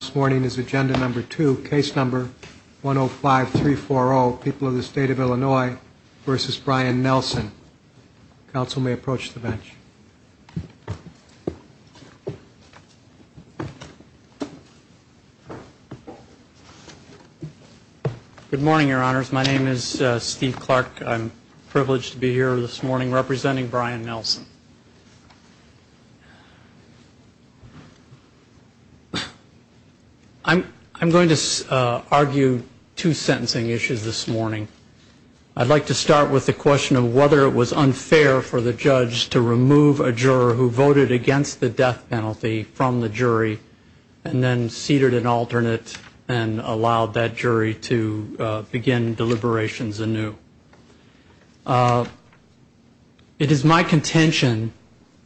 This morning is agenda number two, case number 105-340, people of the state of Illinois versus Brian Nelson. Council may approach the bench. Good morning, your honors. My name is Steve Clark. I'm privileged to be here this morning representing Brian Nelson. I'm going to argue two sentencing issues this morning. I'd like to start with the question of whether it was unfair for the judge to remove a juror who voted against the death penalty from the jury and then ceded an alternate and allowed that jury to begin deliberations anew. It is my contention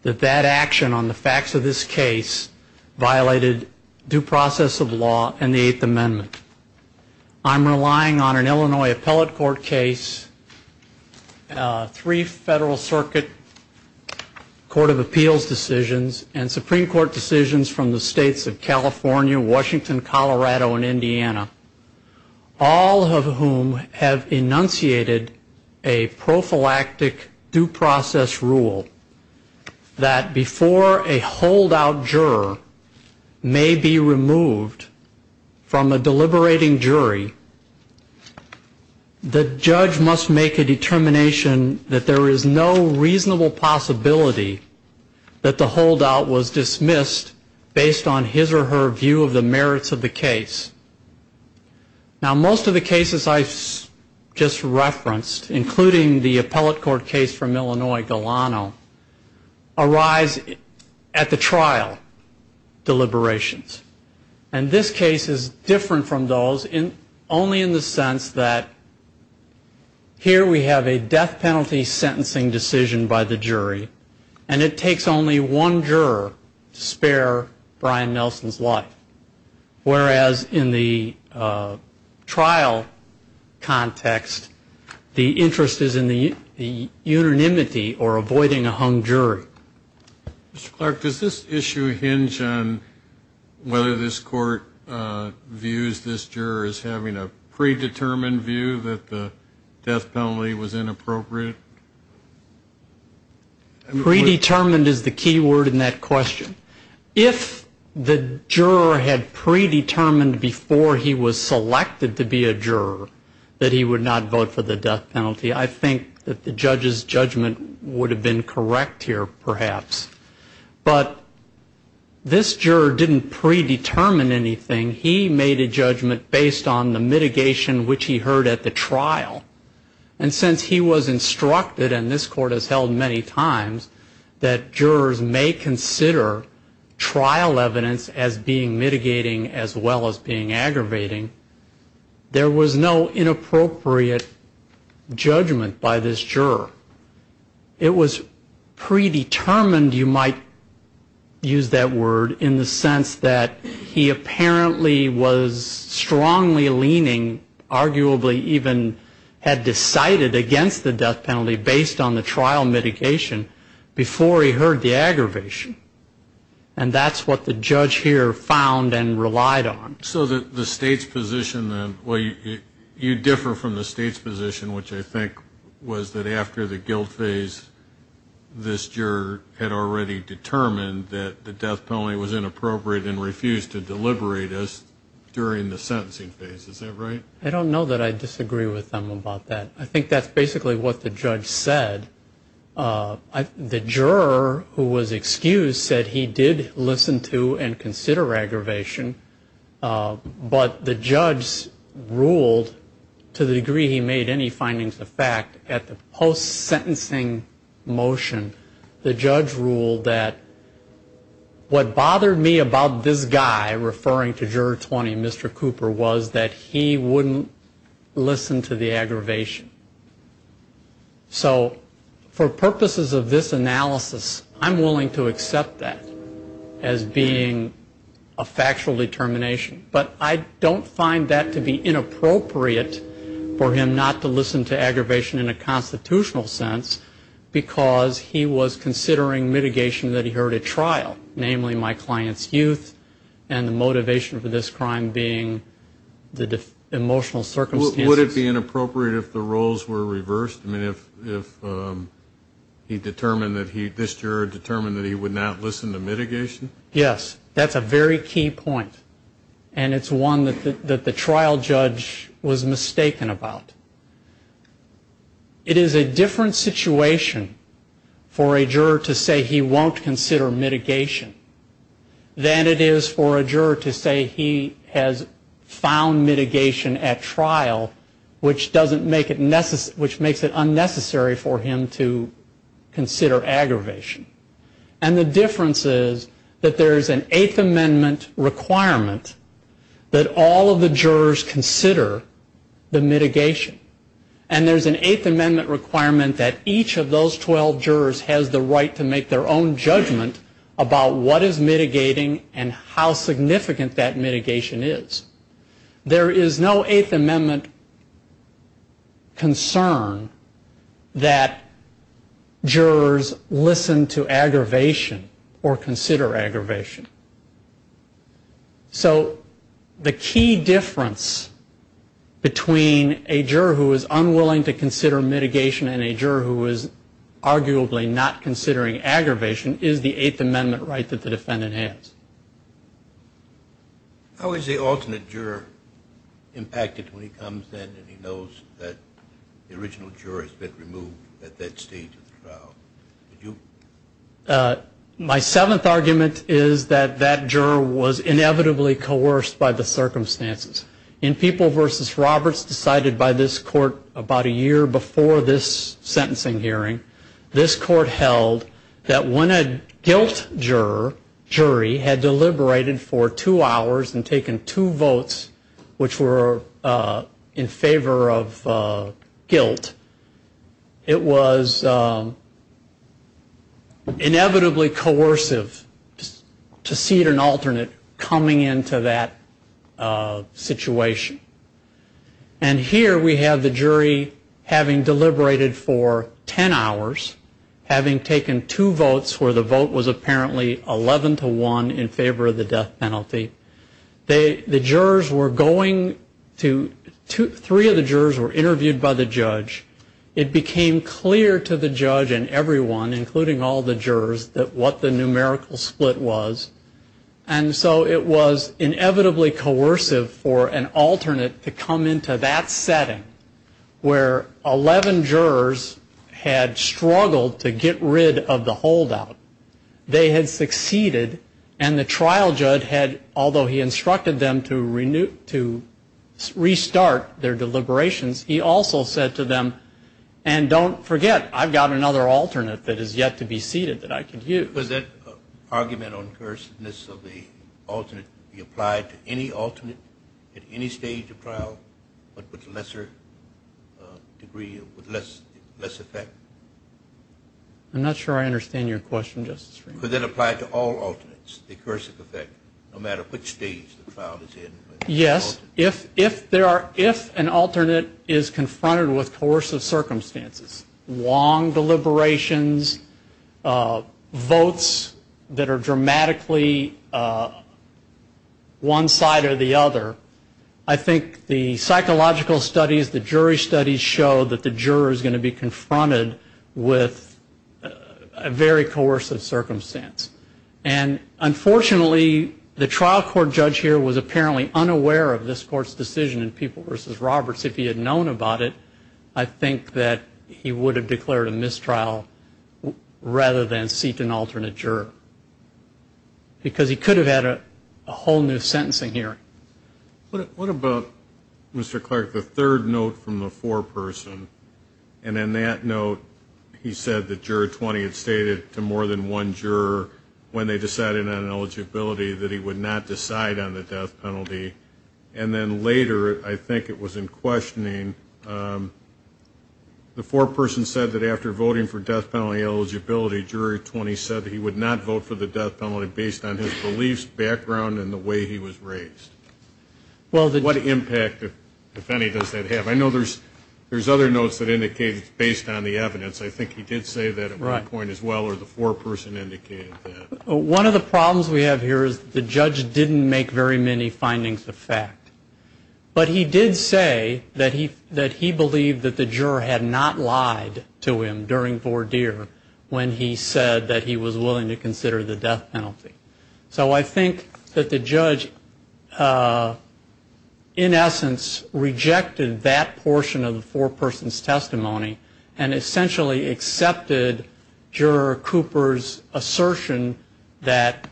that that action on the facts of this case violated due process of law and the Eighth Amendment. I'm relying on an Illinois appellate court case, three Federal Circuit Court of Appeals decisions, and Supreme Court decisions from the states of California, Washington, Colorado, and Indiana, all of whom have enunciated a prophylactic due process rule that before a holdout juror may be removed from a deliberating jury, the judge must make a determination that there is no reasonable possibility that the holdout was dismissed based on his or her view of the merits of the case. Now, most of the cases I just referenced, including the appellate court case from Illinois, Galano, arise at the trial deliberations. And this case is different from those only in the sense that here we have a death penalty sentencing decision by the jury, and it takes only one juror to spare Brian Nelson's life, whereas in the trial context the interest is in the unanimity or avoiding a hung jury. Mr. Clark, does this issue hinge on whether this court views this juror as having a predetermined view that the death penalty was inappropriate? Predetermined is the key word in that question. If the juror had predetermined before he was selected to be a juror that he would not vote for the death penalty, I think that the judge's judgment would have been correct here, perhaps. But this juror didn't predetermine anything. He made a judgment based on the mitigation which he heard at the trial. And since he was instructed, and this court has held many times, that jurors may consider trial evidence as being mitigating as well as being aggravating, there was no inappropriate judgment by this juror. It was predetermined, you might use that word, in the sense that he apparently was strongly leaning, arguably even had decided against the death penalty based on the trial mitigation before he heard the aggravation. And that's what the judge here found and relied on. So the state's position then, well, you differ from the state's position, which I think was that after the guilt phase, this juror had already determined that the death penalty was inappropriate and refused to deliberate as during the sentencing phase, is that right? I don't know that I disagree with them about that. I think that's basically what the judge said. The juror who was excused said he did listen to and consider aggravation. But the judge ruled, to the degree he made any findings of fact, at the post-sentencing motion, the judge ruled that what bothered me about this guy, referring to juror 20, Mr. Cooper, was that he wouldn't listen to the aggravation. So for purposes of this analysis, I'm willing to accept that as being a factual determination. But I don't find that to be inappropriate for him not to listen to aggravation in a constitutional sense, because he was considering mitigation that he heard at trial. Namely, my client's youth, and the motivation for this crime being the emotional circumstances. Would it be inappropriate if the roles were reversed? I mean, if he determined that he, this juror determined that he would not listen to mitigation? Yes. That's a very key point. And it's one that the trial judge was mistaken about. It is a different situation for a juror to say he won't consider mitigation than it is for a juror to say he has found mitigation at trial, which makes it unnecessary for him to consider aggravation. And the difference is that there's an Eighth Amendment requirement that all of the jurors consider the mitigation. And there's an Eighth Amendment requirement that each of those 12 jurors has the right to make their own judgment about what is mitigating and how significant that mitigation is. There is no Eighth Amendment concern that jurors listen to aggravation. Or consider aggravation. So the key difference between a juror who is unwilling to consider mitigation and a juror who is arguably not considering aggravation is the Eighth Amendment right that the defendant has. How is the alternate juror impacted when he comes in and he knows that the original juror has been removed at that stage of the trial? My seventh argument is that that juror was inevitably coerced by the circumstances. In People v. Roberts decided by this court about a year before this sentencing hearing, this court held that when a guilt juror, jury, had deliberated for two hours and taken two votes, which were in favor of guilt, it was not a matter of guilt. It was inevitably coercive to see an alternate coming into that situation. And here we have the jury having deliberated for ten hours, having taken two votes where the vote was apparently 11 to 1 in favor of the death penalty. The jurors were going to, three of the jurors were interviewed by the judge. It became clear to the judge and everyone, including all the jurors, that what the numerical split was. And so it was inevitably coercive for an alternate to come into that setting where 11 jurors had struggled to get rid of the holdout. They had succeeded, and the trial judge had, although he instructed them to restart their deliberations, he also said to them that they had succeeded. And don't forget, I've got another alternate that is yet to be seated that I can use. Was that argument on coerciveness of the alternate applied to any alternate at any stage of trial, but with lesser degree, with less effect? I'm not sure I understand your question, Justice Freeman. Was that applied to all alternates, the coercive effect, no matter which stage the trial is in? Yes, if an alternate is confronted with coercive circumstances, long deliberations, votes that are dramatically one side or the other, I think the psychological studies, the jury studies show that the juror is going to be confronted with a very coercive circumstance. And unfortunately, the trial court judge here was apparently unaware of this court's decision in People v. Roberts. If he had known about it, I think that he would have declared a mistrial rather than seat an alternate juror. Because he could have had a whole new sentencing hearing. What about, Mr. Clark, the third note from the foreperson, and in that note he said that Juror 20 had stated to more than one juror, when they decided on eligibility, that he would not decide on the death penalty. And then later, I think it was in questioning, the foreperson said that after voting for death penalty eligibility, Juror 20 said that he would not vote for the death penalty based on his beliefs, background, and the way he was raised. What impact, if any, does that have? I know there's other notes that indicate based on the evidence, I think he did say that at one point as well, or the foreperson indicated that. One of the problems we have here is that the judge didn't make very many findings of fact. But he did say that he believed that the juror had not lied to him during voir dire, when he said that he was willing to consider the death penalty. So I think that the judge, in essence, rejected that possibility. Rejected that portion of the foreperson's testimony, and essentially accepted Juror Cooper's assertion that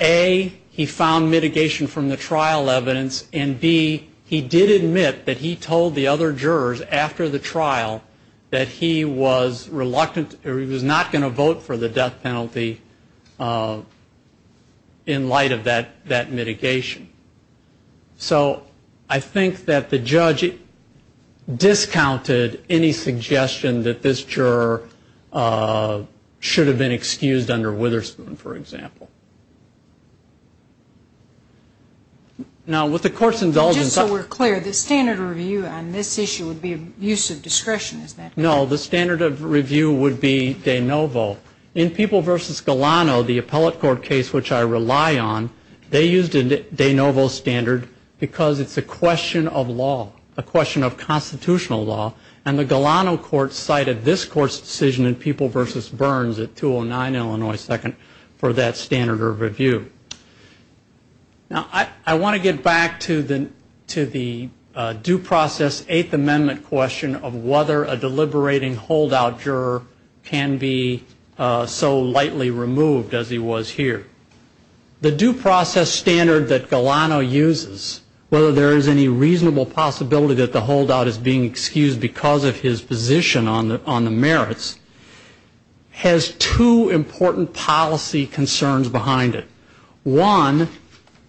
A, he found mitigation from the trial evidence, and B, he did admit that he told the other jurors after the trial that he was reluctant, or he was not going to vote for the death penalty in light of that mitigation. So I think that the judge discounted any suggestion that this juror should have been excused under Witherspoon, for example. Now, with the court's indulgence, Just so we're clear, the standard review on this issue would be use of discretion, is that correct? No, the standard of review would be de novo. In People v. Galano, the appellate court case which I rely on, they used a de novo standard because it's a question of law, a question of constitutional law. And the Galano court cited this court's decision in People v. Burns at 209 Illinois 2nd for that standard of review. Now, I want to get back to the due process Eighth Amendment question of whether a deliberating holdout juror can be indicted. And why was he so lightly removed as he was here? The due process standard that Galano uses, whether there is any reasonable possibility that the holdout is being excused because of his position on the merits, has two important policy concerns behind it. One,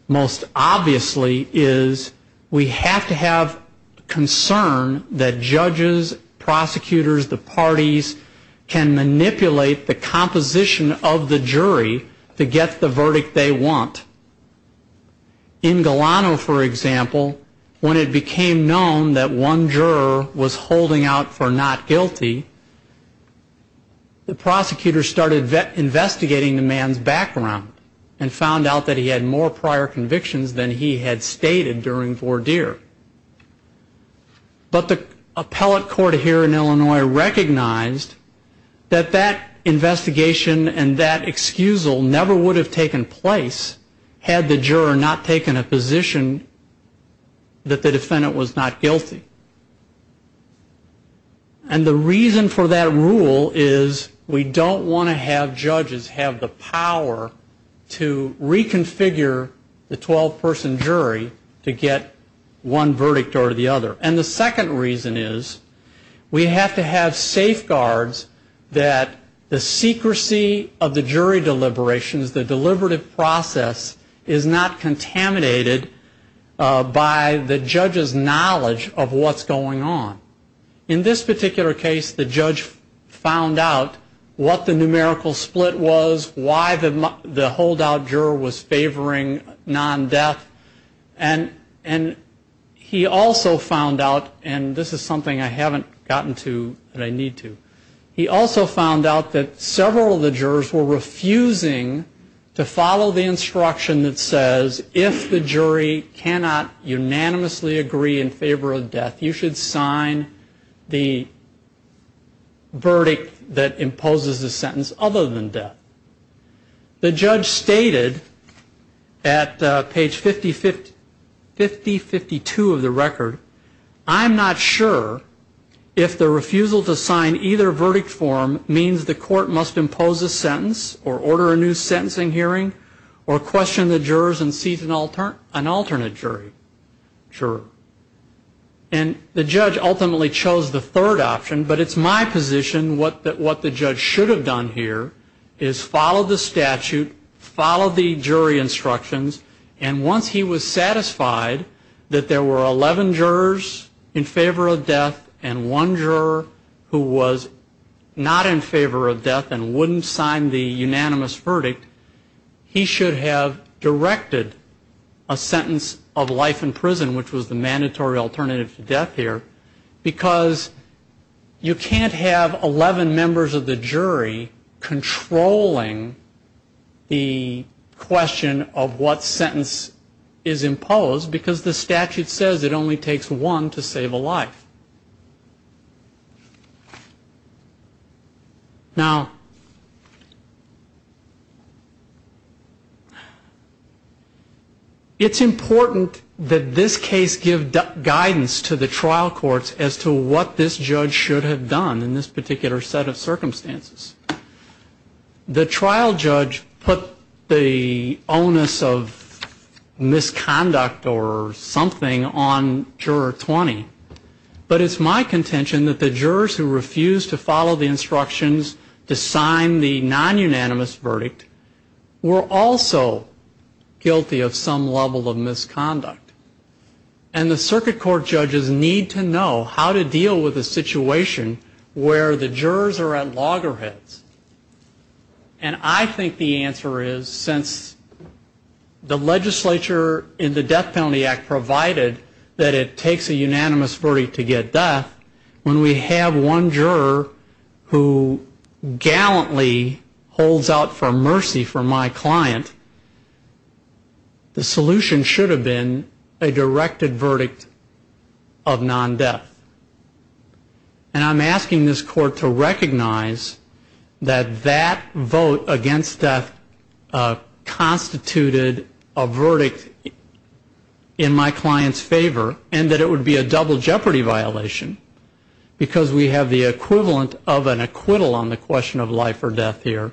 most obviously, is we have to have concern that judges, prosecutors, the parties can manipulate the case. They can manipulate the composition of the jury to get the verdict they want. In Galano, for example, when it became known that one juror was holding out for not guilty, the prosecutor started investigating the man's background and found out that he had more prior convictions than he had stated during voir dire. But the appellate court here in Illinois recognized that that investigation and that excusal never would have taken place had the juror not taken a position that the defendant was not guilty. And the reason for that rule is we don't want to have judges have the power to reconfigure the 12-person jury to get what they want. And the second reason is we have to have safeguards that the secrecy of the jury deliberations, the deliberative process, is not contaminated by the judge's knowledge of what's going on. In this particular case, the judge found out what the numerical split was, why the holdout juror was favoring non-death, and the judge found out that he was not guilty. He also found out, and this is something I haven't gotten to, but I need to, he also found out that several of the jurors were refusing to follow the instruction that says, if the jury cannot unanimously agree in favor of death, you should sign the verdict that imposes the sentence other than death. The judge stated at page 5052 of his sentence, that he was not guilty. And he said, I'm not sure if the refusal to sign either verdict form means the court must impose a sentence or order a new sentencing hearing or question the jurors and seize an alternate jury. And the judge ultimately chose the third option, but it's my position that what the judge should have done here is followed the statute, followed the jury instructions, and once he was satisfied that there were alternatives, he should have signed the verdict. If there were 11 jurors in favor of death and one juror who was not in favor of death and wouldn't sign the unanimous verdict, he should have directed a sentence of life in prison, which was the mandatory alternative to death here, because you can't have 11 members of the jury controlling the question of what sentence is imposed, because the statute says it only imposes the sentence. It only takes one to save a life. Now, it's important that this case give guidance to the trial courts as to what this judge should have done in this particular set of circumstances. The trial judge put the onus of misconduct or something on the jury. The jury should not know that this judge is not guilty of misconduct. But it's my contention that the jurors who refused to follow the instructions to sign the non-unanimous verdict were also guilty of some level of misconduct. And the circuit court judges need to know how to deal with a situation where the jurors are at loggerheads. And I think the answer is, since the legislature in the Death Penalty Act provided that it takes a unanimous verdict to get death, when we have one juror who gallantly holds out for mercy for my client, the solution should have been a directed verdict of non-death. And I'm asking this court to recognize that that vote against death constituted a verdict in my client's favor, and that it would be a double jeopardy violation, because we have the equivalent of an acquittal on the question of life or death here,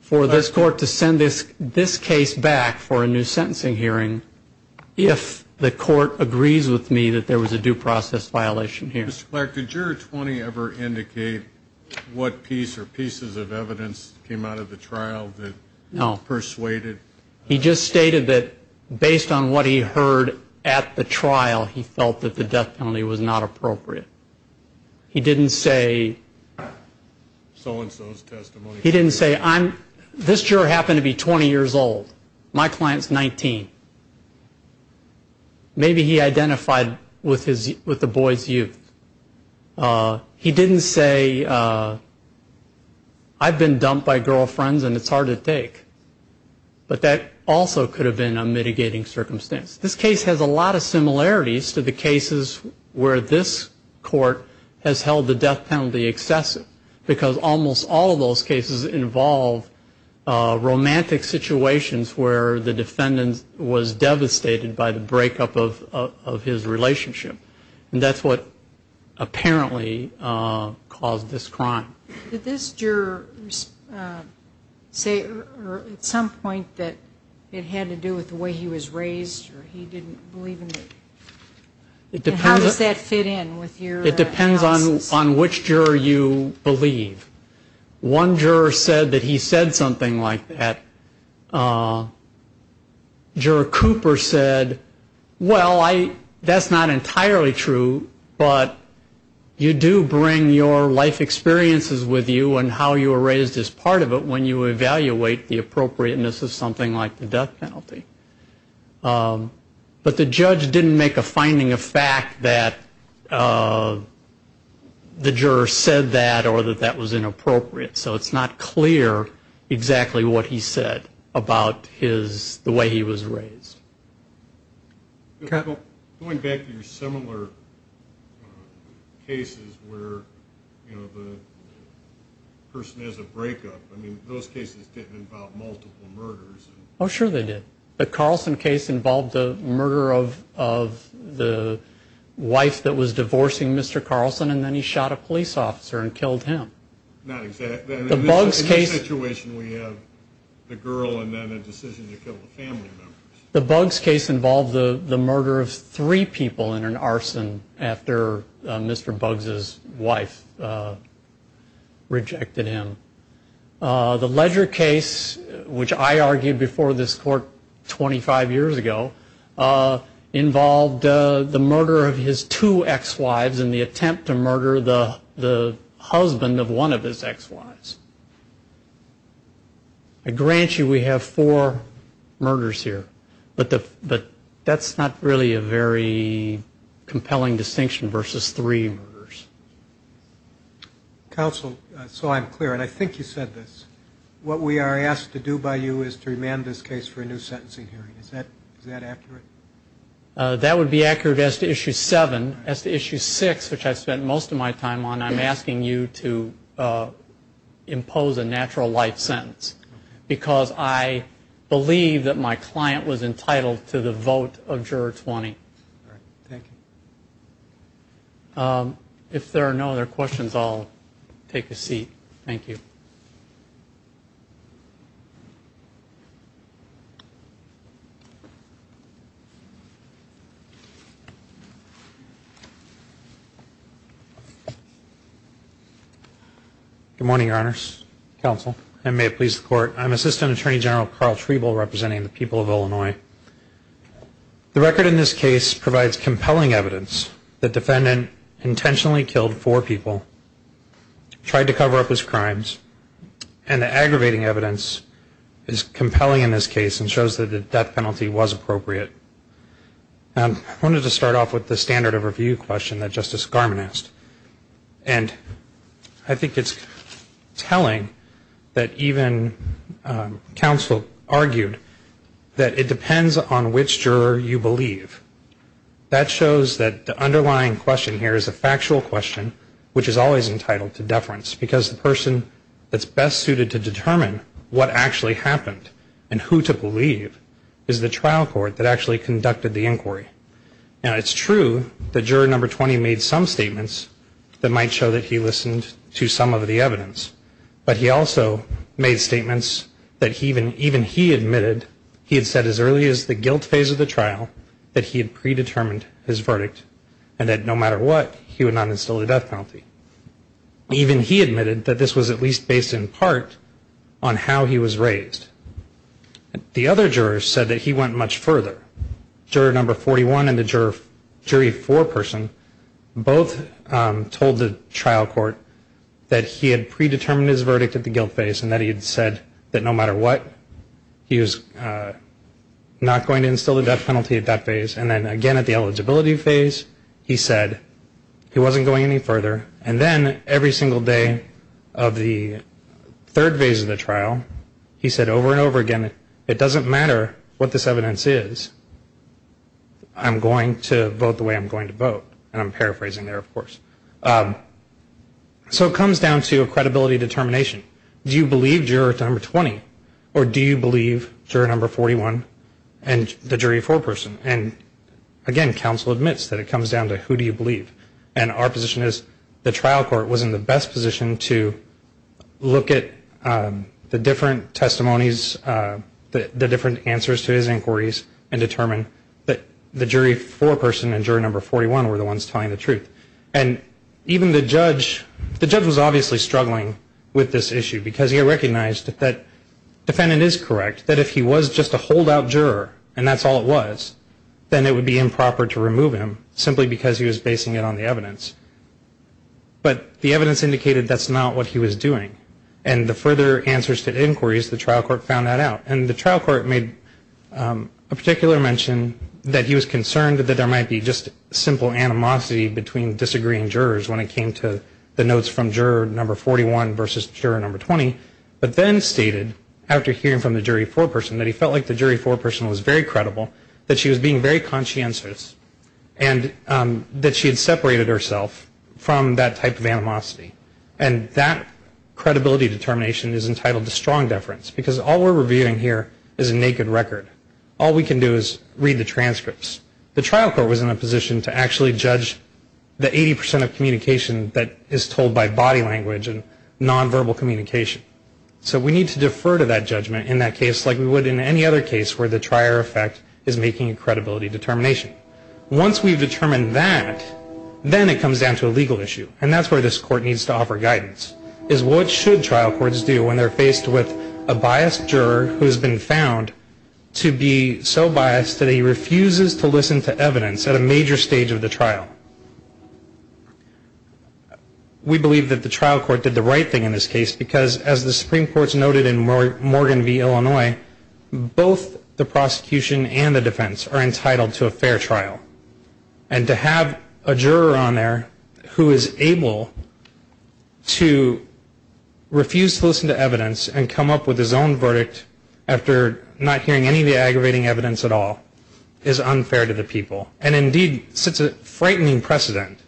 for this court to send this case back for a new trial, and we have a process violation here. Mr. Clark, did Juror 20 ever indicate what piece or pieces of evidence came out of the trial that persuaded? No. He just stated that based on what he heard at the trial, he felt that the death penalty was not appropriate. He didn't say, so and so's testimony. He didn't say, this juror happened to be 20 years old. My client's 19. Maybe he identified with the boy's youth. He didn't say, I've been dumped by girlfriends, and it's hard to take. But that also could have been a mitigating circumstance. This case has a lot of similarities to the cases where this court has held the death penalty excessive, because almost all of those cases were devastated by the breakup of his relationship, and that's what apparently caused this crime. Did this juror say at some point that it had to do with the way he was raised, or he didn't believe in it? How does that fit in with your analysis? It depends on which juror you believe. One juror said that he said something like that. Juror Cooper said, well, that's not entirely true, but you do bring your life experiences with you and how you were raised as part of it when you evaluate the appropriateness of something like the death penalty. But the judge didn't make a finding of fact that the juror said that or that that was in his favor. So it's not clear exactly what he said about the way he was raised. Going back to your similar cases where the person has a breakup, I mean, those cases didn't involve multiple murders. Oh, sure they did. The Carlson case involved the murder of the wife that was divorcing Mr. Carlson, and then he shot a police officer and killed him. Not exactly. The Buggs case involved the murder of three people in an arson after Mr. Buggs' wife rejected him. The Ledger case, which I argued before this court 25 years ago, involved the murder of his two ex-wives in the attempt to murder the husband of one of his ex-wives. I grant you we have four murders here, but that's not really a very compelling distinction versus three murders. Counsel, so I'm clear, and I think you said this, what we are asked to do by you is to remand this case for a new sentencing hearing. Is that accurate? That would be accurate as to Issue 7. As to Issue 6, which I spent most of my time on, I'm asking you to impose a natural light sentence, because I believe that my client was entitled to the vote of Juror 20. Thank you. If there are no other questions, I'll take a seat. Thank you. Good morning, Your Honors, Counsel, and may it please the Court, I'm Assistant Attorney General Carl Treble representing the people of Illinois. The record in this case provides compelling evidence that the defendant intentionally killed four people, tried to cover up his crimes, and the aggravating evidence is compelling in this case and shows that the death penalty was appropriate. I wanted to start off with the standard of review question that Justice Garmon asked. And I think it's telling that even counsel argued that it depends on the evidence that the defendant has. It depends on which juror you believe. That shows that the underlying question here is a factual question, which is always entitled to deference, because the person that's best suited to determine what actually happened and who to believe is the trial court that actually conducted the inquiry. Now, it's true that Juror Number 20 made some statements that might show that he listened to some of the evidence. But he also made statements that even he admitted, he had said as early as the guilt phase of the trial, that he had predetermined his verdict and that no matter what, he would not instill the death penalty. Even he admitted that this was at least based in part on how he was raised. The other juror said that he went much further. Juror Number 41 and the jury four person both told the trial court that he had predetermined his verdict. And that he had said that no matter what, he was not going to instill the death penalty at that phase. And then again at the eligibility phase, he said he wasn't going any further. And then every single day of the third phase of the trial, he said over and over again, it doesn't matter what this evidence is, I'm going to vote the way I'm going to vote. And I'm paraphrasing there, of course. So it comes down to a credibility determination. Do you believe Juror Number 20 or do you believe Juror Number 41 and the jury four person? And again, counsel admits that it comes down to who do you believe. And our position is the trial court was in the best position to look at the different testimonies, the different answers to his inquiries and determine that the jury four person and juror number 41 were the ones telling the truth. And even the judge, the judge was obviously struggling with this issue. Because he recognized that defendant is correct. That if he was just a holdout juror and that's all it was, then it would be improper to remove him. Simply because he was basing it on the evidence. But the evidence indicated that's not what he was doing. And the further answers to inquiries, the trial court found that out. And the trial court made a particular mention that he was concerned that there might be just simple animosity between disagreeing jurors when it came to the notes from juror number 41 versus juror number 20. But then stated after hearing from the jury four person that he felt like the jury four person was very credible, that she was being very conscientious and that she had separated herself from that type of animosity. And that credibility determination is entitled to strong deference. Because all we're reviewing here is a naked record. All we can do is read the transcripts. The trial court was in a position to actually judge the 80 percent of communication that is told by body language and nonverbal communication. So we need to defer to that judgment in that case like we would in any other case where the trier effect is making a credibility determination. Once we've determined that, then it comes down to a legal issue. And that's where this court needs to offer guidance, is what should trial courts do when they're faced with a biased juror who has been found to be so biased that he refuses to listen to evidence at a major stage of the trial? We believe that the trial court did the right thing in this case because as the Supreme Court's noted in Morgan v. Illinois, both the prosecution and the defense are entitled to a fair trial. And to have a juror on there who is able to refuse to listen to evidence and come up with his own verdict after not hearing any of the aggravating evidence at all, is unfair to the people. And indeed, sets a frightening precedent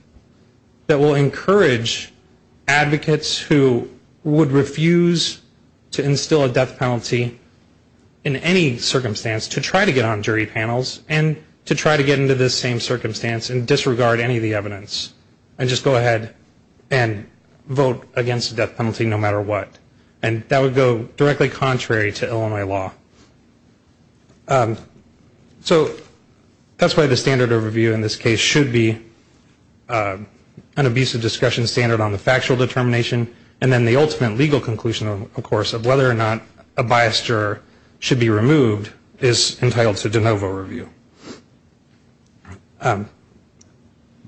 that will encourage advocates who would refuse to instill a death penalty in any circumstance to try to get on jury panels and to try to get into this same circumstance and disregard any of the evidence and just go ahead and vote against the death penalty no matter what. And that would go directly contrary to Illinois law. So, that's why the standard overview in this case should be an abusive discussion standard on the factual determination and then the ultimate legal conclusion, of course, of whether or not a biased juror should be removed is entitled to de novo review.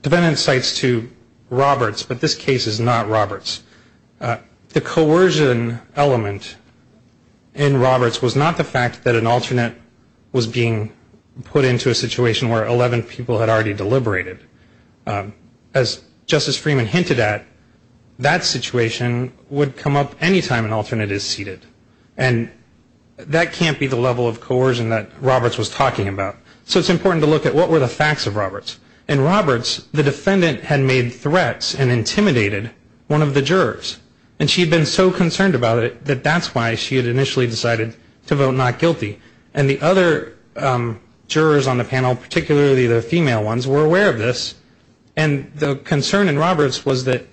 Defendant cites to Roberts, but this case is not Roberts. The coercion element in Roberts was not the fact that an alternate was being used to put into a situation where 11 people had already deliberated. As Justice Freeman hinted at, that situation would come up any time an alternate is seated. And that can't be the level of coercion that Roberts was talking about. So, it's important to look at what were the facts of Roberts. In Roberts, the defendant had made threats and intimidated one of the jurors. And she had been so concerned about it that that's why she had initially decided to vote not guilty. And the other jurors on the panel, particularly the female ones, were aware of this. And the concern in Roberts was that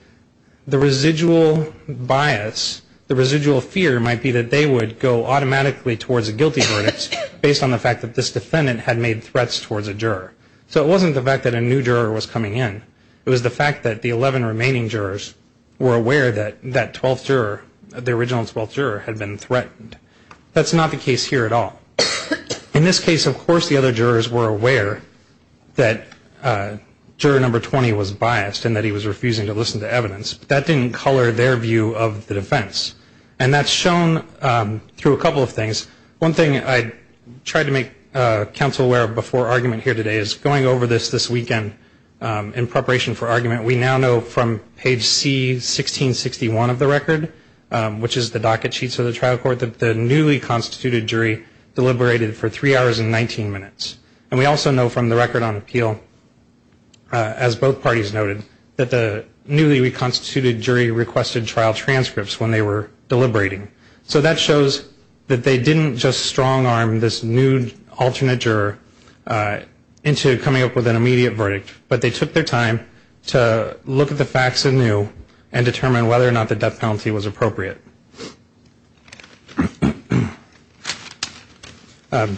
the residual bias, the residual fear might be that they would go automatically towards a guilty verdict based on the fact that this defendant had made threats towards a juror. So, it wasn't the fact that a new juror was coming in. It was the fact that the 11 remaining jurors were aware that that 12th juror, the original 12th juror had been threatened. That's not the case here at all. In this case, of course, the other jurors were aware that juror number 20 was biased and that he was refusing to listen to evidence. But that didn't color their view of the defense. And that's shown through a couple of things. One thing I tried to make counsel aware of before argument here today is going over this this weekend in preparation for argument, we now know from page C1661 of the record, which is the docket sheets of the trial court, that the newly constituted jury deliberated for three hours and 19 minutes. And we also know from the record on appeal, as both parties noted, that the newly reconstituted jury requested trial transcripts when they were deliberating. So, that shows that they didn't just strong arm this nude alternate juror into coming up with an immediate verdict. But they took their time to look at the facts anew and determine whether or not the death penalty was valid. And whether or not it was appropriate. The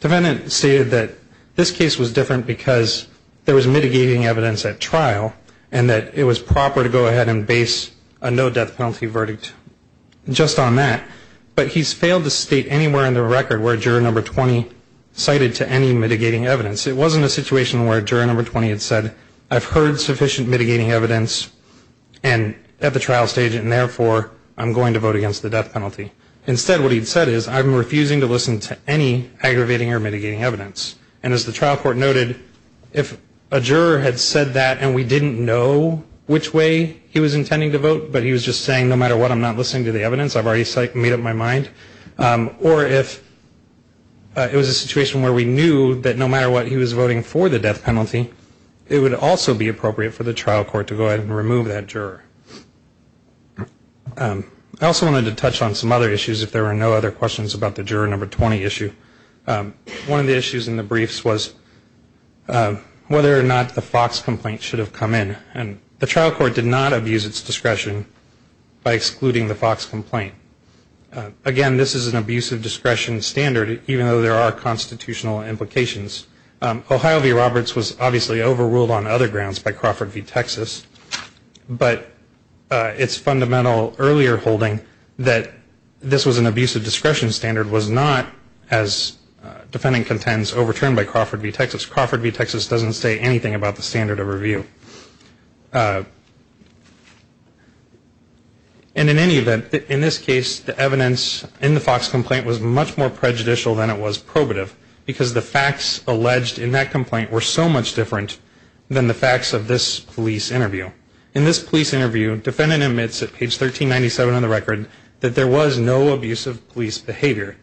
defendant stated that this case was different because there was mitigating evidence at trial and that it was proper to go ahead and base a no death penalty verdict just on that. But he's failed to state anywhere in the record where juror number 20 cited to any mitigating evidence. It wasn't a situation where juror number 20 had said, I've heard sufficient mitigating evidence at the trial stage and therefore I'm going to vote against the death penalty. Instead, what he said is, I'm refusing to listen to any aggravating or mitigating evidence. And as the trial court noted, if a juror had said that and we didn't know which way he was intending to vote, but he was just saying, no matter what, I'm not listening to the evidence, I've already made up my mind. Or if it was a situation where we knew that no matter what he was voting for the death penalty, it would also be appropriate for the trial court to go ahead and remove that juror. I also wanted to touch on some other issues if there were no other questions about the juror number 20 issue. One of the issues in the briefs was whether or not the Fox complaint should have come in. And the trial court did not abuse its discretion by excluding the Fox complaint. Again, this is an abuse of discretion standard even though there are constitutional implications. Ohio v. Roberts was obviously overruled on other grounds by Crawford v. Texas, but its fundamental earlier holding that this was an abuse of discretion standard was not, as defendant contends, overturned by Crawford v. Texas. Crawford v. Texas doesn't say anything about the standard of review. And in any event, in this case, the evidence in the Fox complaint was much more prejudicial than it was probative because the facts alleged in that complaint were so much different than the facts of this police interview. In this police interview, defendant admits at page 1397 of the record that there was no abusive police behavior.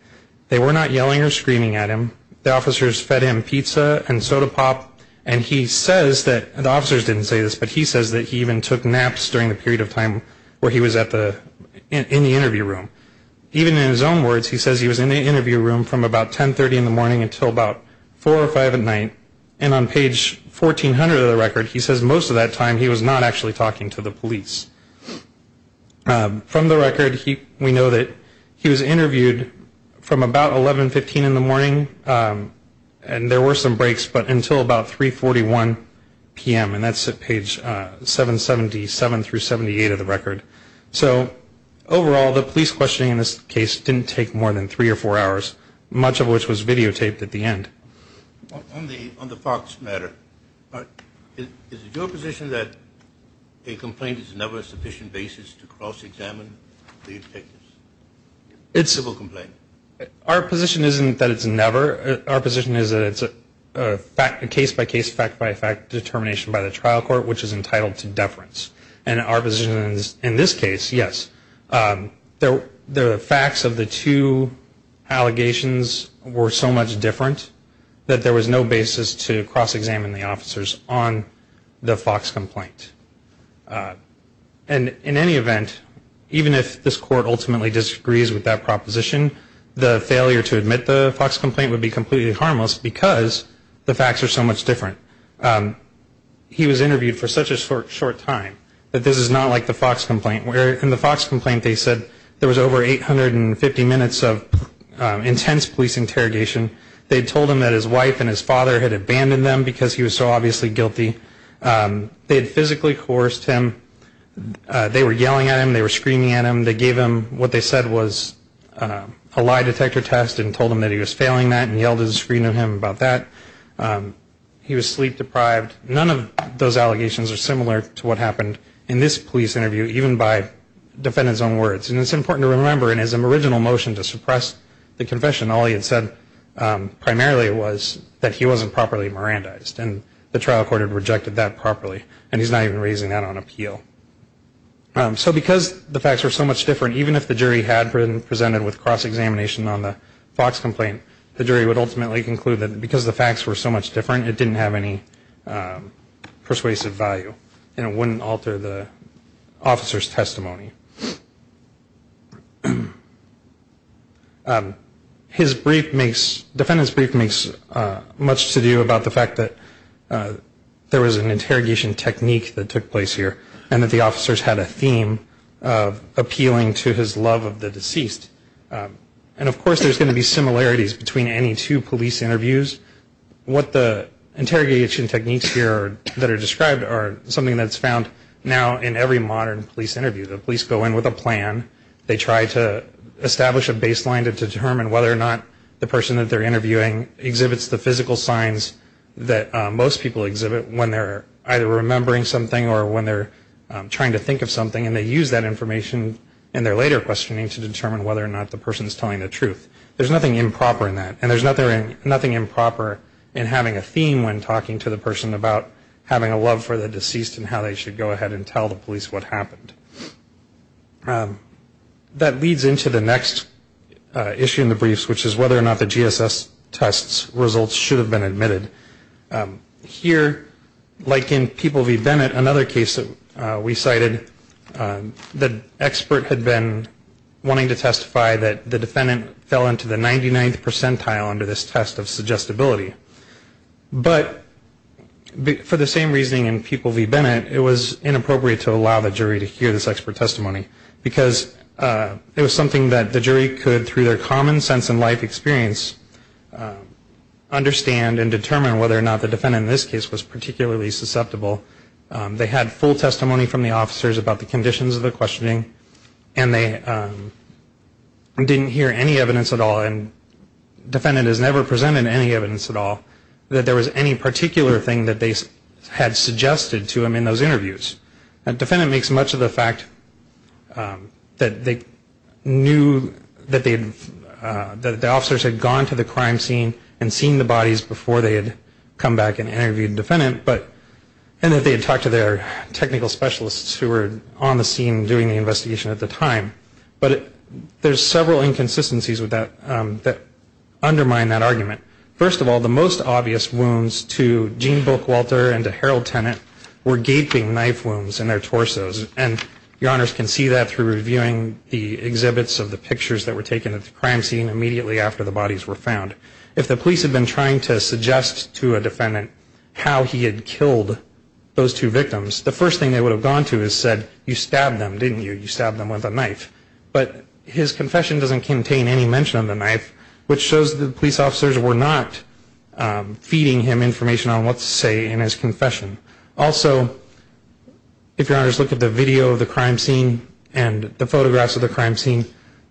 They were not yelling or screaming at him. The officers fed him pizza and soda pop, and he says that, the officers didn't say this, but he says that he even took naps during the period of time where he was in the interview room. Even in his own words, he says he was in the interview room from about 1030 in the morning until about 4 or 5 at night. And on page 1400 of the record, he says most of that time he was not in the interview room. He was not actually talking to the police. From the record, we know that he was interviewed from about 1115 in the morning, and there were some breaks, but until about 341 p.m., and that's at page 777 through 78 of the record. So overall, the police questioning in this case didn't take more than three or four hours, much of which was videotaped at the end. On the Fox matter, is it your position that a complaint is never a sufficient basis to cross-examine the detective's civil complaint? Our position isn't that it's never. Our position is that it's a case-by-case, fact-by-fact determination by the trial court, which is entitled to deference. And our position is, in this case, yes. The facts of the two allegations were so much different. That there was no basis to cross-examine the officers on the Fox complaint. And in any event, even if this court ultimately disagrees with that proposition, the failure to admit the Fox complaint would be completely harmless because the facts are so much different. He was interviewed for such a short time that this is not like the Fox complaint. In the Fox complaint, they said there was over 850 minutes of intense police interrogation. They told him that his wife and his father had abandoned them because he was so obviously guilty. They had physically coerced him. They were yelling at him, they were screaming at him. They gave him what they said was a lie detector test and told him that he was failing that and yelled at him about that. He was sleep-deprived. None of those allegations are similar to what happened in this police interview, even by defendant's own words. And it's important to remember, in his original motion to suppress the confession, all he had said was, primarily it was that he wasn't properly Mirandized and the trial court had rejected that properly. And he's not even raising that on appeal. So because the facts were so much different, even if the jury had presented with cross-examination on the Fox complaint, the jury would ultimately conclude that because the facts were so much different, it didn't have any persuasive value and it wouldn't alter the officer's testimony. His brief makes, defendant's brief makes much to do about the fact that there was an interrogation technique that took place here and that the officers had a theme of appealing to his love of the deceased. And of course there's going to be similarities between any two police interviews. What the interrogation techniques here that are described are something that's found now in every modern police interview. The police go in with a plan, they try to establish a baseline to determine whether or not the person that they're interviewing exhibits the physical signs that most people exhibit when they're either remembering something or when they're trying to think of something and they use that information in their later questioning to determine whether or not the person's telling the truth. There's nothing improper in that and there's nothing improper in having a theme when talking to the person about having a love for the deceased and how they should go ahead and tell the police what happened. That leads into the next issue in the briefs, which is whether or not the GSS test results should have been admitted. Here, like in People v. Bennett, another case that we cited, the expert had been wanting to testify that the defendant fell into the 99th percentile under this test of suggestibility. But for the same reasoning in People v. Bennett, it was inappropriate to allow the jury to hear this expert testimony. Because it was something that the jury could, through their common sense in life experience, understand and determine whether or not the defendant in this case was particularly susceptible. They had full testimony from the officers about the conditions of the questioning and they didn't hear any evidence at all and the defendant has never presented any evidence at all that there was any particular thing that they had suggested to him in those interviews. The defendant makes much of the fact that they knew that the officers had gone to the crime scene and seen the bodies before they had come back and interviewed the defendant and that they had talked to their technical specialists who were on the scene doing the investigation at the time. But there's several inconsistencies that undermine that argument. First of all, the most obvious wounds to Gene Bookwalter and to Harold Tennant were gaping knife wounds in their torsos and your honors can see that through reviewing the exhibits of the pictures that were taken at the crime scene immediately after the bodies were found. If the police had been trying to suggest to a defendant how he had killed those two victims, the first thing they would have gone to is said, you stabbed them, didn't you? You stabbed them with a knife. But his confession doesn't contain any mention of the knife, which shows that the police officers were not feeding him information on what to say in his confession. Also, if your honors look at the video of the crime scene and the photographs of the crime scene,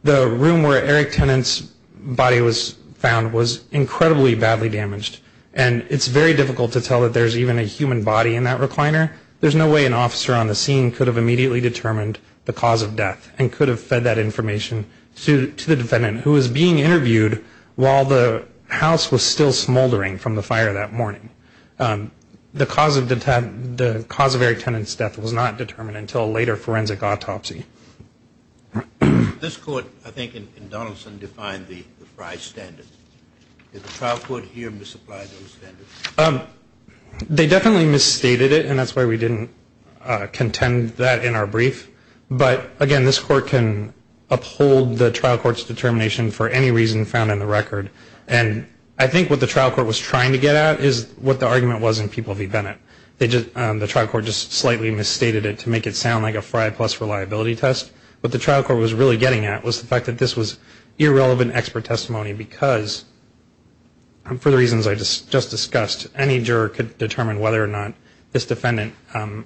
the room where Eric Tennant's body was found was incredibly badly damaged and it's very difficult to tell that there's even a human body in that recliner. There's no way an officer on the scene could have immediately determined the cause of death and could have fed that information to the defendant who was being interviewed while the house was still smoldering from the fire that morning. The cause of Eric Tennant's death was not determined until a later forensic autopsy. This court, I think, in Donaldson, defined the Frye standard. Did the trial court here misapply those standards? They definitely misstated it and that's why we didn't contend that in our brief. But, again, this court can uphold the trial court's determination for any reason found in the record. And I think what the trial court was trying to get at is what the argument was in People v. Bennett. The trial court just slightly misstated it to make it sound like a Frye plus reliability test. What the trial court was really getting at was the fact that this was irrelevant expert testimony because, for the reasons I just discussed, any juror could determine whether or not this defendant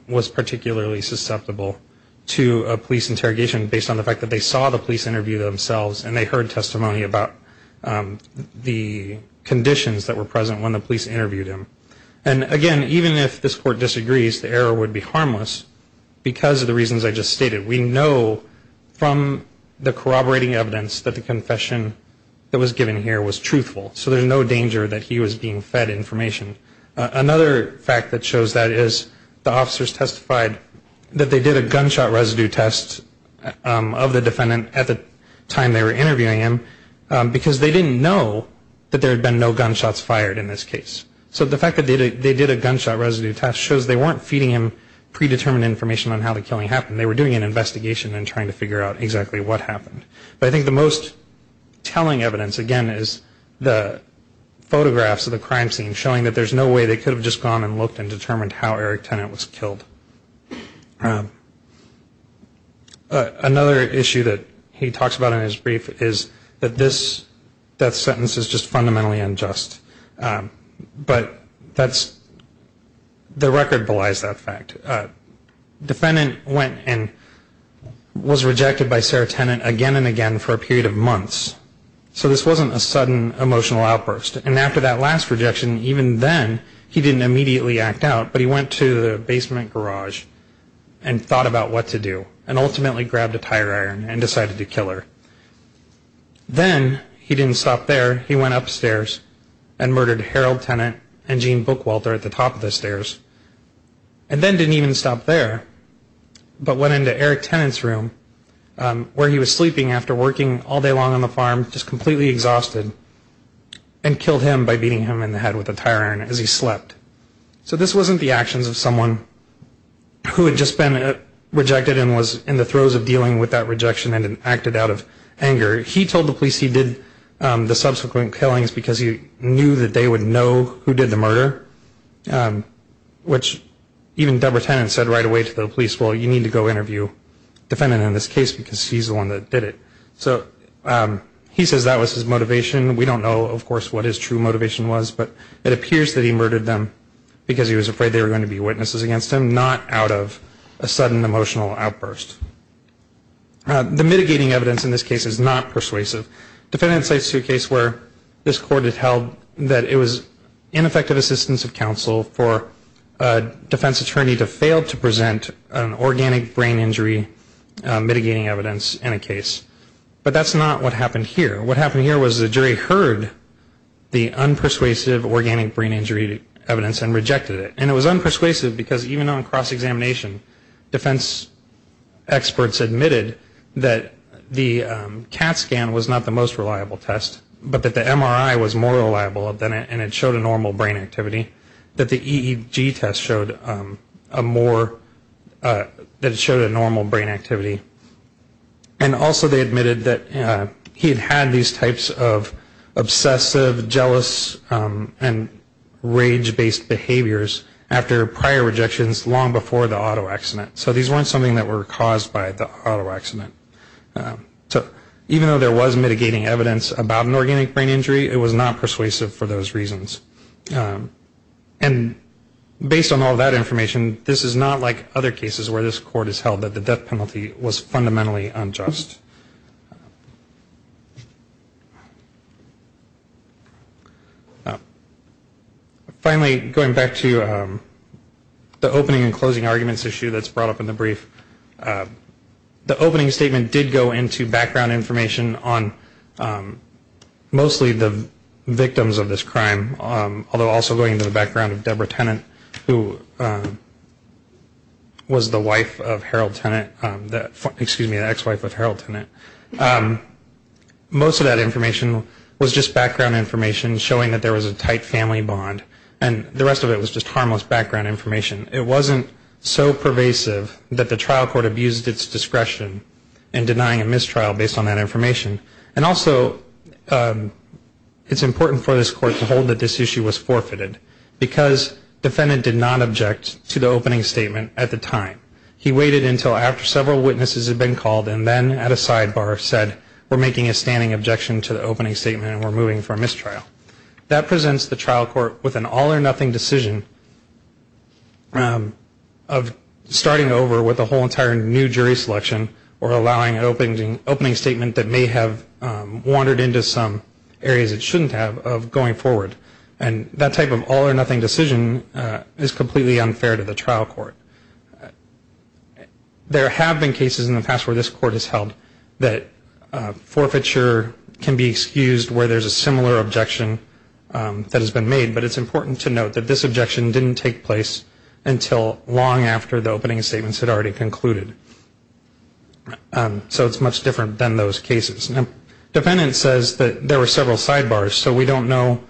was particularly susceptible to a police interrogation based on the fact that they saw the police interview themselves and they heard testimony about the conditions that were present when the police interviewed them. And, again, even if this court disagrees, the error would be harmless because of the reasons I just stated. We know from the corroborating evidence that the confession that was given here was truthful. So there's no danger that he was being fed information. Another fact that shows that is the officers testified that they did a gunshot residue test of the defendant at the time they were interviewed. They were interviewing him because they didn't know that there had been no gunshots fired in this case. So the fact that they did a gunshot residue test shows they weren't feeding him predetermined information on how the killing happened. They were doing an investigation and trying to figure out exactly what happened. But I think the most telling evidence, again, is the photographs of the crime scene showing that there's no way they could have just gone and looked and determined how Eric Tennant was killed. Another issue that he talks about in his brief is that this death sentence is just fundamentally unjust. But that's, the record belies that fact. The defendant went and was rejected by Sarah Tennant again and again for a period of months. So this wasn't a sudden emotional outburst. And after that last rejection, even then, he didn't immediately act out. But he went to the basement garage and thought about what to do and ultimately grabbed a tire iron and decided to kill her. Then he didn't stop there. He went upstairs and murdered Harold Tennant and Jean Bookwalter at the top of the stairs and then didn't even stop there, but went into Eric Tennant's room where he was sleeping after working all day long on the farm, just completely exhausted and killed him by beating him in the head with a tire iron as he slept. So this wasn't the actions of someone who had just been rejected and was in the throes of dealing with that rejection and acted out of anger. He told the police he did the subsequent killings because he knew that they would know who did the murder, which even Deborah Tennant said right away to the police, well, you need to go interview the defendant in this case because he's the one that did it. So he says that was his motivation. We don't know, of course, what his true motivation was, but it appears that he murdered them because he was afraid they were going to be witnesses against him, not out of a sudden emotional outburst. The mitigating evidence in this case is not persuasive. Defendant cites a case where this court had held that it was ineffective assistance of counsel for a defense attorney to fail to present an organic brain injury mitigating evidence in a case. But that's not what happened here. What happened here was the jury heard the unpersuasive organic brain injury evidence and rejected it. And it was unpersuasive because even on cross-examination, defense experts admitted that the CAT scan was not the most reliable test, but that the MRI was more reliable and it showed a normal brain activity, that the EEG test showed a more, that it showed a normal brain activity. And also they admitted that he had had these types of obsessive, jealous, and rage-based behaviors after prior rejections long before the auto accident. So these weren't something that were caused by the auto accident. So even though there was mitigating evidence about an organic brain injury, it was not persuasive for those reasons. And based on all that information, this is not like other cases where this court has held that the death penalty was fundamentally unjust. Finally, going back to the opening and closing arguments issue that's brought up in the brief, the opening statement did go into background information on mostly the victims of this crime, although also going into the background of Deborah Tennant, who was the wife of Harold Tennant, excuse me, the ex-wife of Harold Tennant. Most of that information was just background information showing that there was a tight family bond, and the rest of it was just harmless background information. It wasn't so pervasive that the trial court abused its discretion in denying a mistrial based on that information. And also it's important for this court to hold that this issue was forfeited because defendant did not object to the opening statement at the time. He waited until after several witnesses had been called and then at a sidebar said, we're making a standing objection to the opening statement and we're moving for a mistrial. That presents the trial court with an all or nothing decision of starting over with a whole entire new jury selection or allowing an opening statement that may have wandered into some areas it shouldn't have of going forward. And that type of all or nothing decision is completely unfair to the trial court. There have been cases in the past where this court has held that forfeiture can be excused where there's a similar objection that has been made, but it's important to note that this objection didn't take place until long after the opening statements had already concluded. So it's much different than those cases. Defendant says that there were several sidebars so we don't know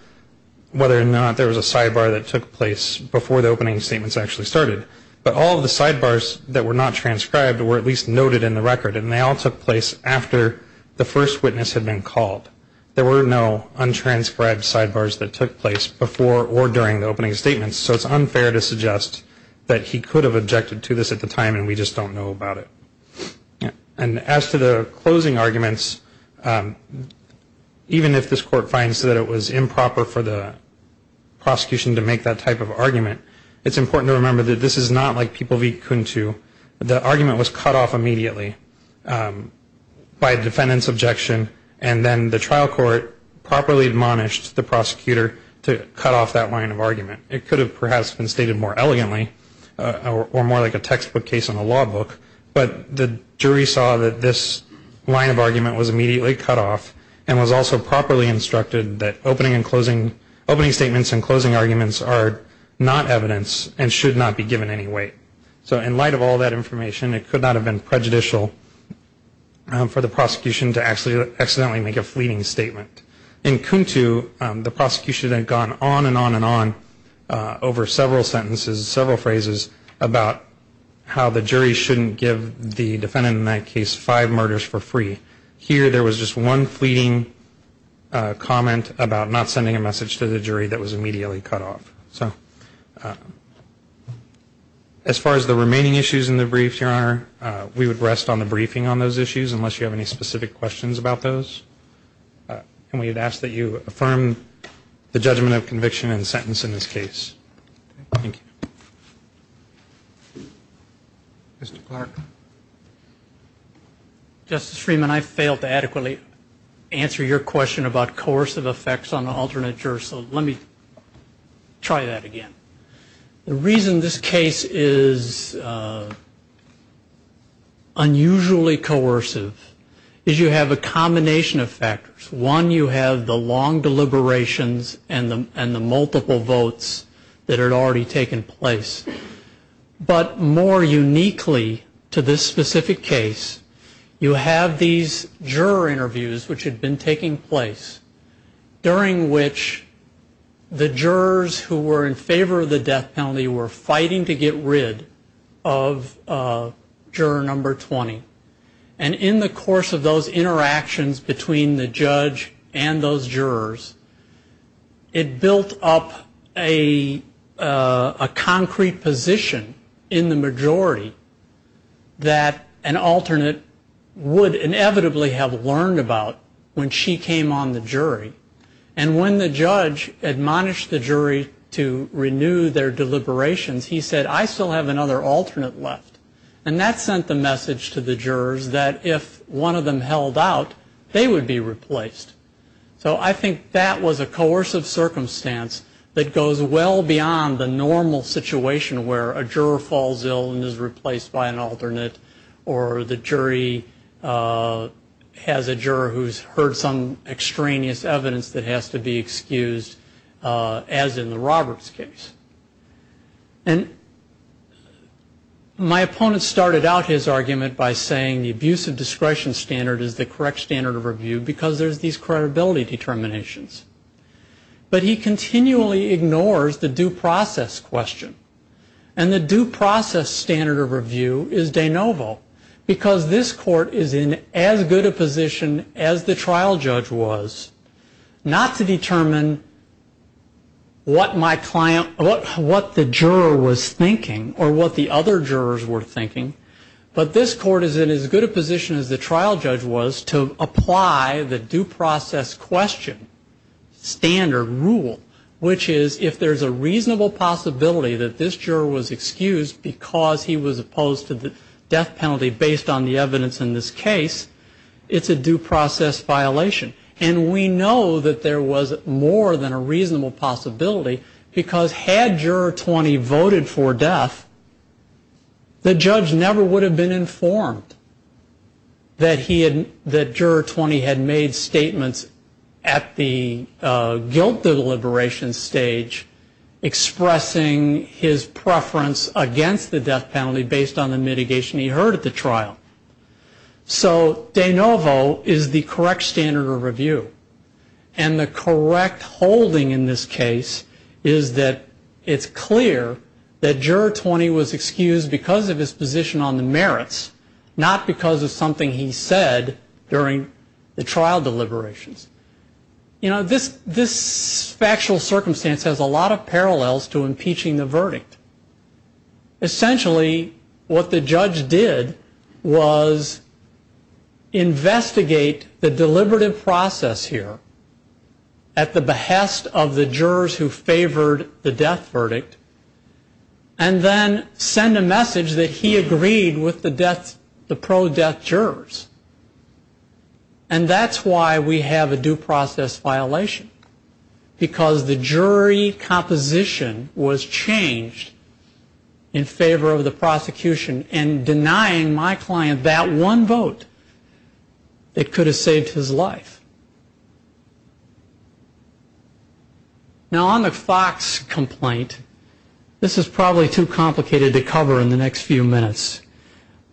whether or not there was a sidebar that took place before the opening statements actually started. But all of the sidebars that were not transcribed were at least noted in the record and they all took place after the first witness had been called. There were no untranscribed sidebars that took place before or during the opening statements so it's unfair to suggest that he could have objected to this at the time and we just don't know about it. And as to the closing arguments, even if this court finds that it was improper for the prosecution to make that type of argument, it's important to remember that this is not like People v. Cuntu. The argument was cut off immediately by a defendant's objection and then the trial court properly admonished the prosecutor to cut off that line of argument. It could have perhaps been stated more elegantly or more like a textbook case in a law book but the jury saw that this line of argument was immediately cut off and was also properly instructed that opening statements and closing arguments are not evidence and should not be given any weight. So in light of all that information, it could not have been prejudicial for the prosecution to accidentally make a fleeting statement. In Cuntu, the prosecution had gone on and on and on over several sentences, several phrases about how the jury shouldn't give the defendant in that case five murders for free. Here there was just one fleeting comment about not sending a message to the jury that was immediately cut off. As far as the remaining issues in the brief, Your Honor, we would rest on the briefing on those issues unless you have any specific questions about those and we would ask that you affirm the judgment of conviction and sentence in this case. Thank you. Mr. Clark. Justice Freeman, I failed to adequately answer your question about coercive effects on alternate jurors so let me try that again. The reason this case is unusually coercive is you have a combination of factors. One, you have the long deliberations and the multiple votes that had already taken place. But more uniquely to this specific case, you have these juror interviews which had been taking place during which the jurors who were in favor of the death penalty were fighting to get rid of juror number 20. And in the course of those interactions between the judge and those jurors, it built up a concrete position in the majority that an alternate would inevitably have learned about when she came on the jury. And when the judge admonished the jury to renew their deliberations, he said, I still have another alternate left. And that sent the message to the jurors that if one of them held out, they would be replaced. So I think that was a coercive circumstance that goes well beyond the normal situation where a juror falls ill and is replaced by an alternate or the jury has a juror who's heard some extraneous evidence that has to be excused as in the Roberts case. And my opponent started out his argument by saying the abuse of discretion standard is the correct standard of review because there's these credibility determinations. But he continually ignores the due process question. And the due process standard of review is de novo because this court is in as good a position as the trial judge was not to determine what the juror was thinking or what the other jurors were thinking, but this court is in as good a position as the trial judge was to apply the due process question standard rule, which is if there's a reasonable possibility that this juror was excused because he was opposed to the death penalty based on the evidence in this case, it's a due process violation. And we know that there was more than a reasonable possibility because had Juror 20 voted for death, the judge never would have been informed that Juror 20 had made statements at the guilt deliberation stage expressing his preference against the death penalty based on the mitigation he heard at the trial. So de novo is the correct standard of review. And the correct holding in this case is that it's clear that Juror 20 was excused because of his position on the merits, not because of something he said during the trial deliberations. This factual circumstance has a lot of parallels to impeaching the verdict. Essentially, what the judge did was investigate the deliberative process here at the behest of the jurors who favored the death verdict and then send a message that he agreed with the pro-death jurors. And that's why we have a due process violation because the jury composition was changed in favor of the prosecution and denying my client that one vote that could have saved his life. Now on the Fox complaint, this is probably too complicated to cover in the next few minutes,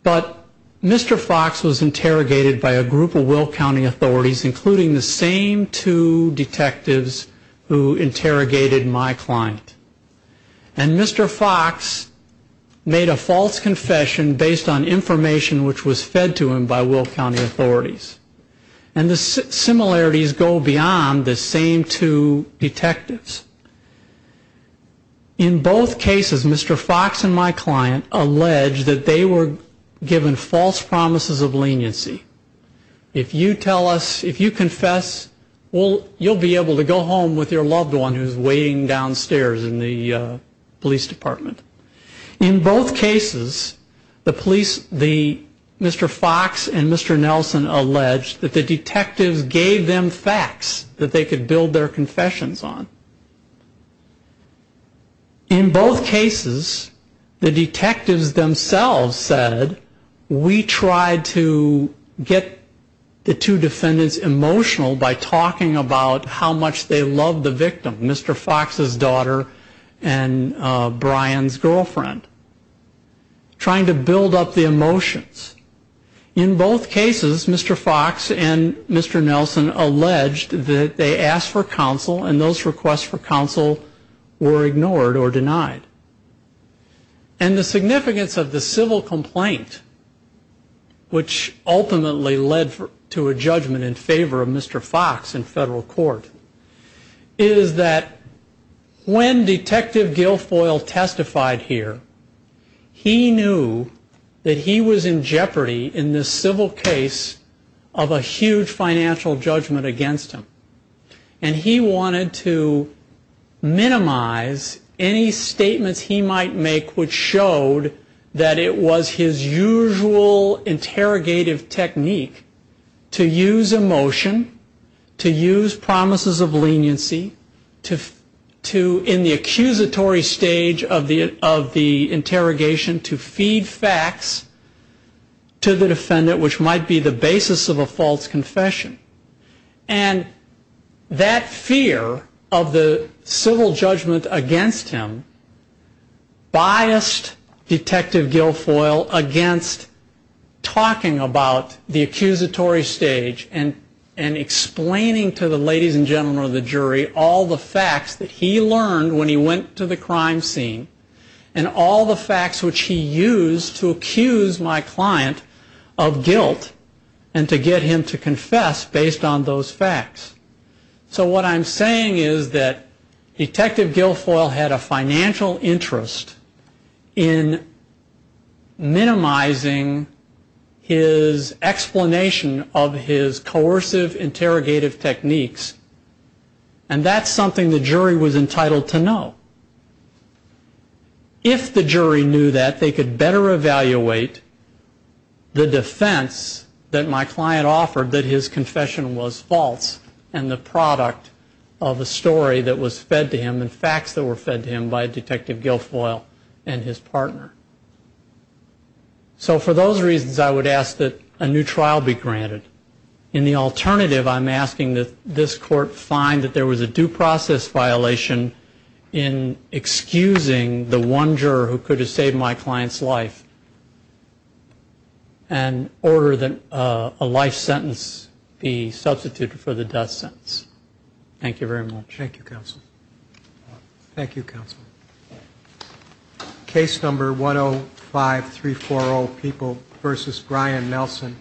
but Mr. Fox was interrogated by a group of Will County authorities including the same two detectives who interrogated my client. And Mr. Fox made a false confession based on information which was fed to him by Will County authorities. And the similarities go beyond the same two detectives. In both cases, Mr. Fox and my client alleged that they were given false promises of leniency. If you tell us, if you confess, you'll be able to go home with your loved one who's waiting downstairs in the police department. In both cases, Mr. Fox and Mr. Nelson alleged that the detectives gave them facts that they could build their confessions on. In both cases, the detectives themselves said we tried to get the two defendants emotional by talking about how much they loved the victim, Mr. Fox's daughter and Brian's girlfriend. Trying to build up the emotions. In both cases, Mr. Fox and Mr. Nelson alleged that they asked for counsel and those requests for counsel were ignored or denied. And the significance of the civil complaint which ultimately led to a judgment in favor of Mr. Fox in federal court is that when Detective Gilfoyle testified here, he knew that he was in jeopardy in this civil case of a huge financial judgment against him. And he wanted to minimize any statements he might make which showed that it was his usual interrogative technique to use emotion, to use promises of leniency, in the accusatory stage of the interrogation to feed facts to the defendant which might be the basis of a false confession. And that fear of the civil judgment against him biased Detective Gilfoyle against talking about the accusatory stage and explaining to the ladies and gentlemen of the jury all the facts that he learned when he went to the crime scene and all the facts which he used to accuse my client of guilt and to get him to confess based on those facts. So what I'm saying is that Detective Gilfoyle had a financial interest in minimizing his explanation of his coercive interrogative techniques and that's something the jury was entitled to know. If the jury knew that they could better evaluate the defense that my client offered that his confession was false and the product of a story that was fed to him and facts that were fed to him by Detective Gilfoyle and his partner. So for those reasons I would ask that a new trial be granted. In the alternative I'm asking that this court find that there was a due process violation in excusing the one juror who could have saved my client's life in order that a life sentence be substituted for the death sentence. Thank you very much. Thank you counsel. Case number 105-340 People v. Brian Nelson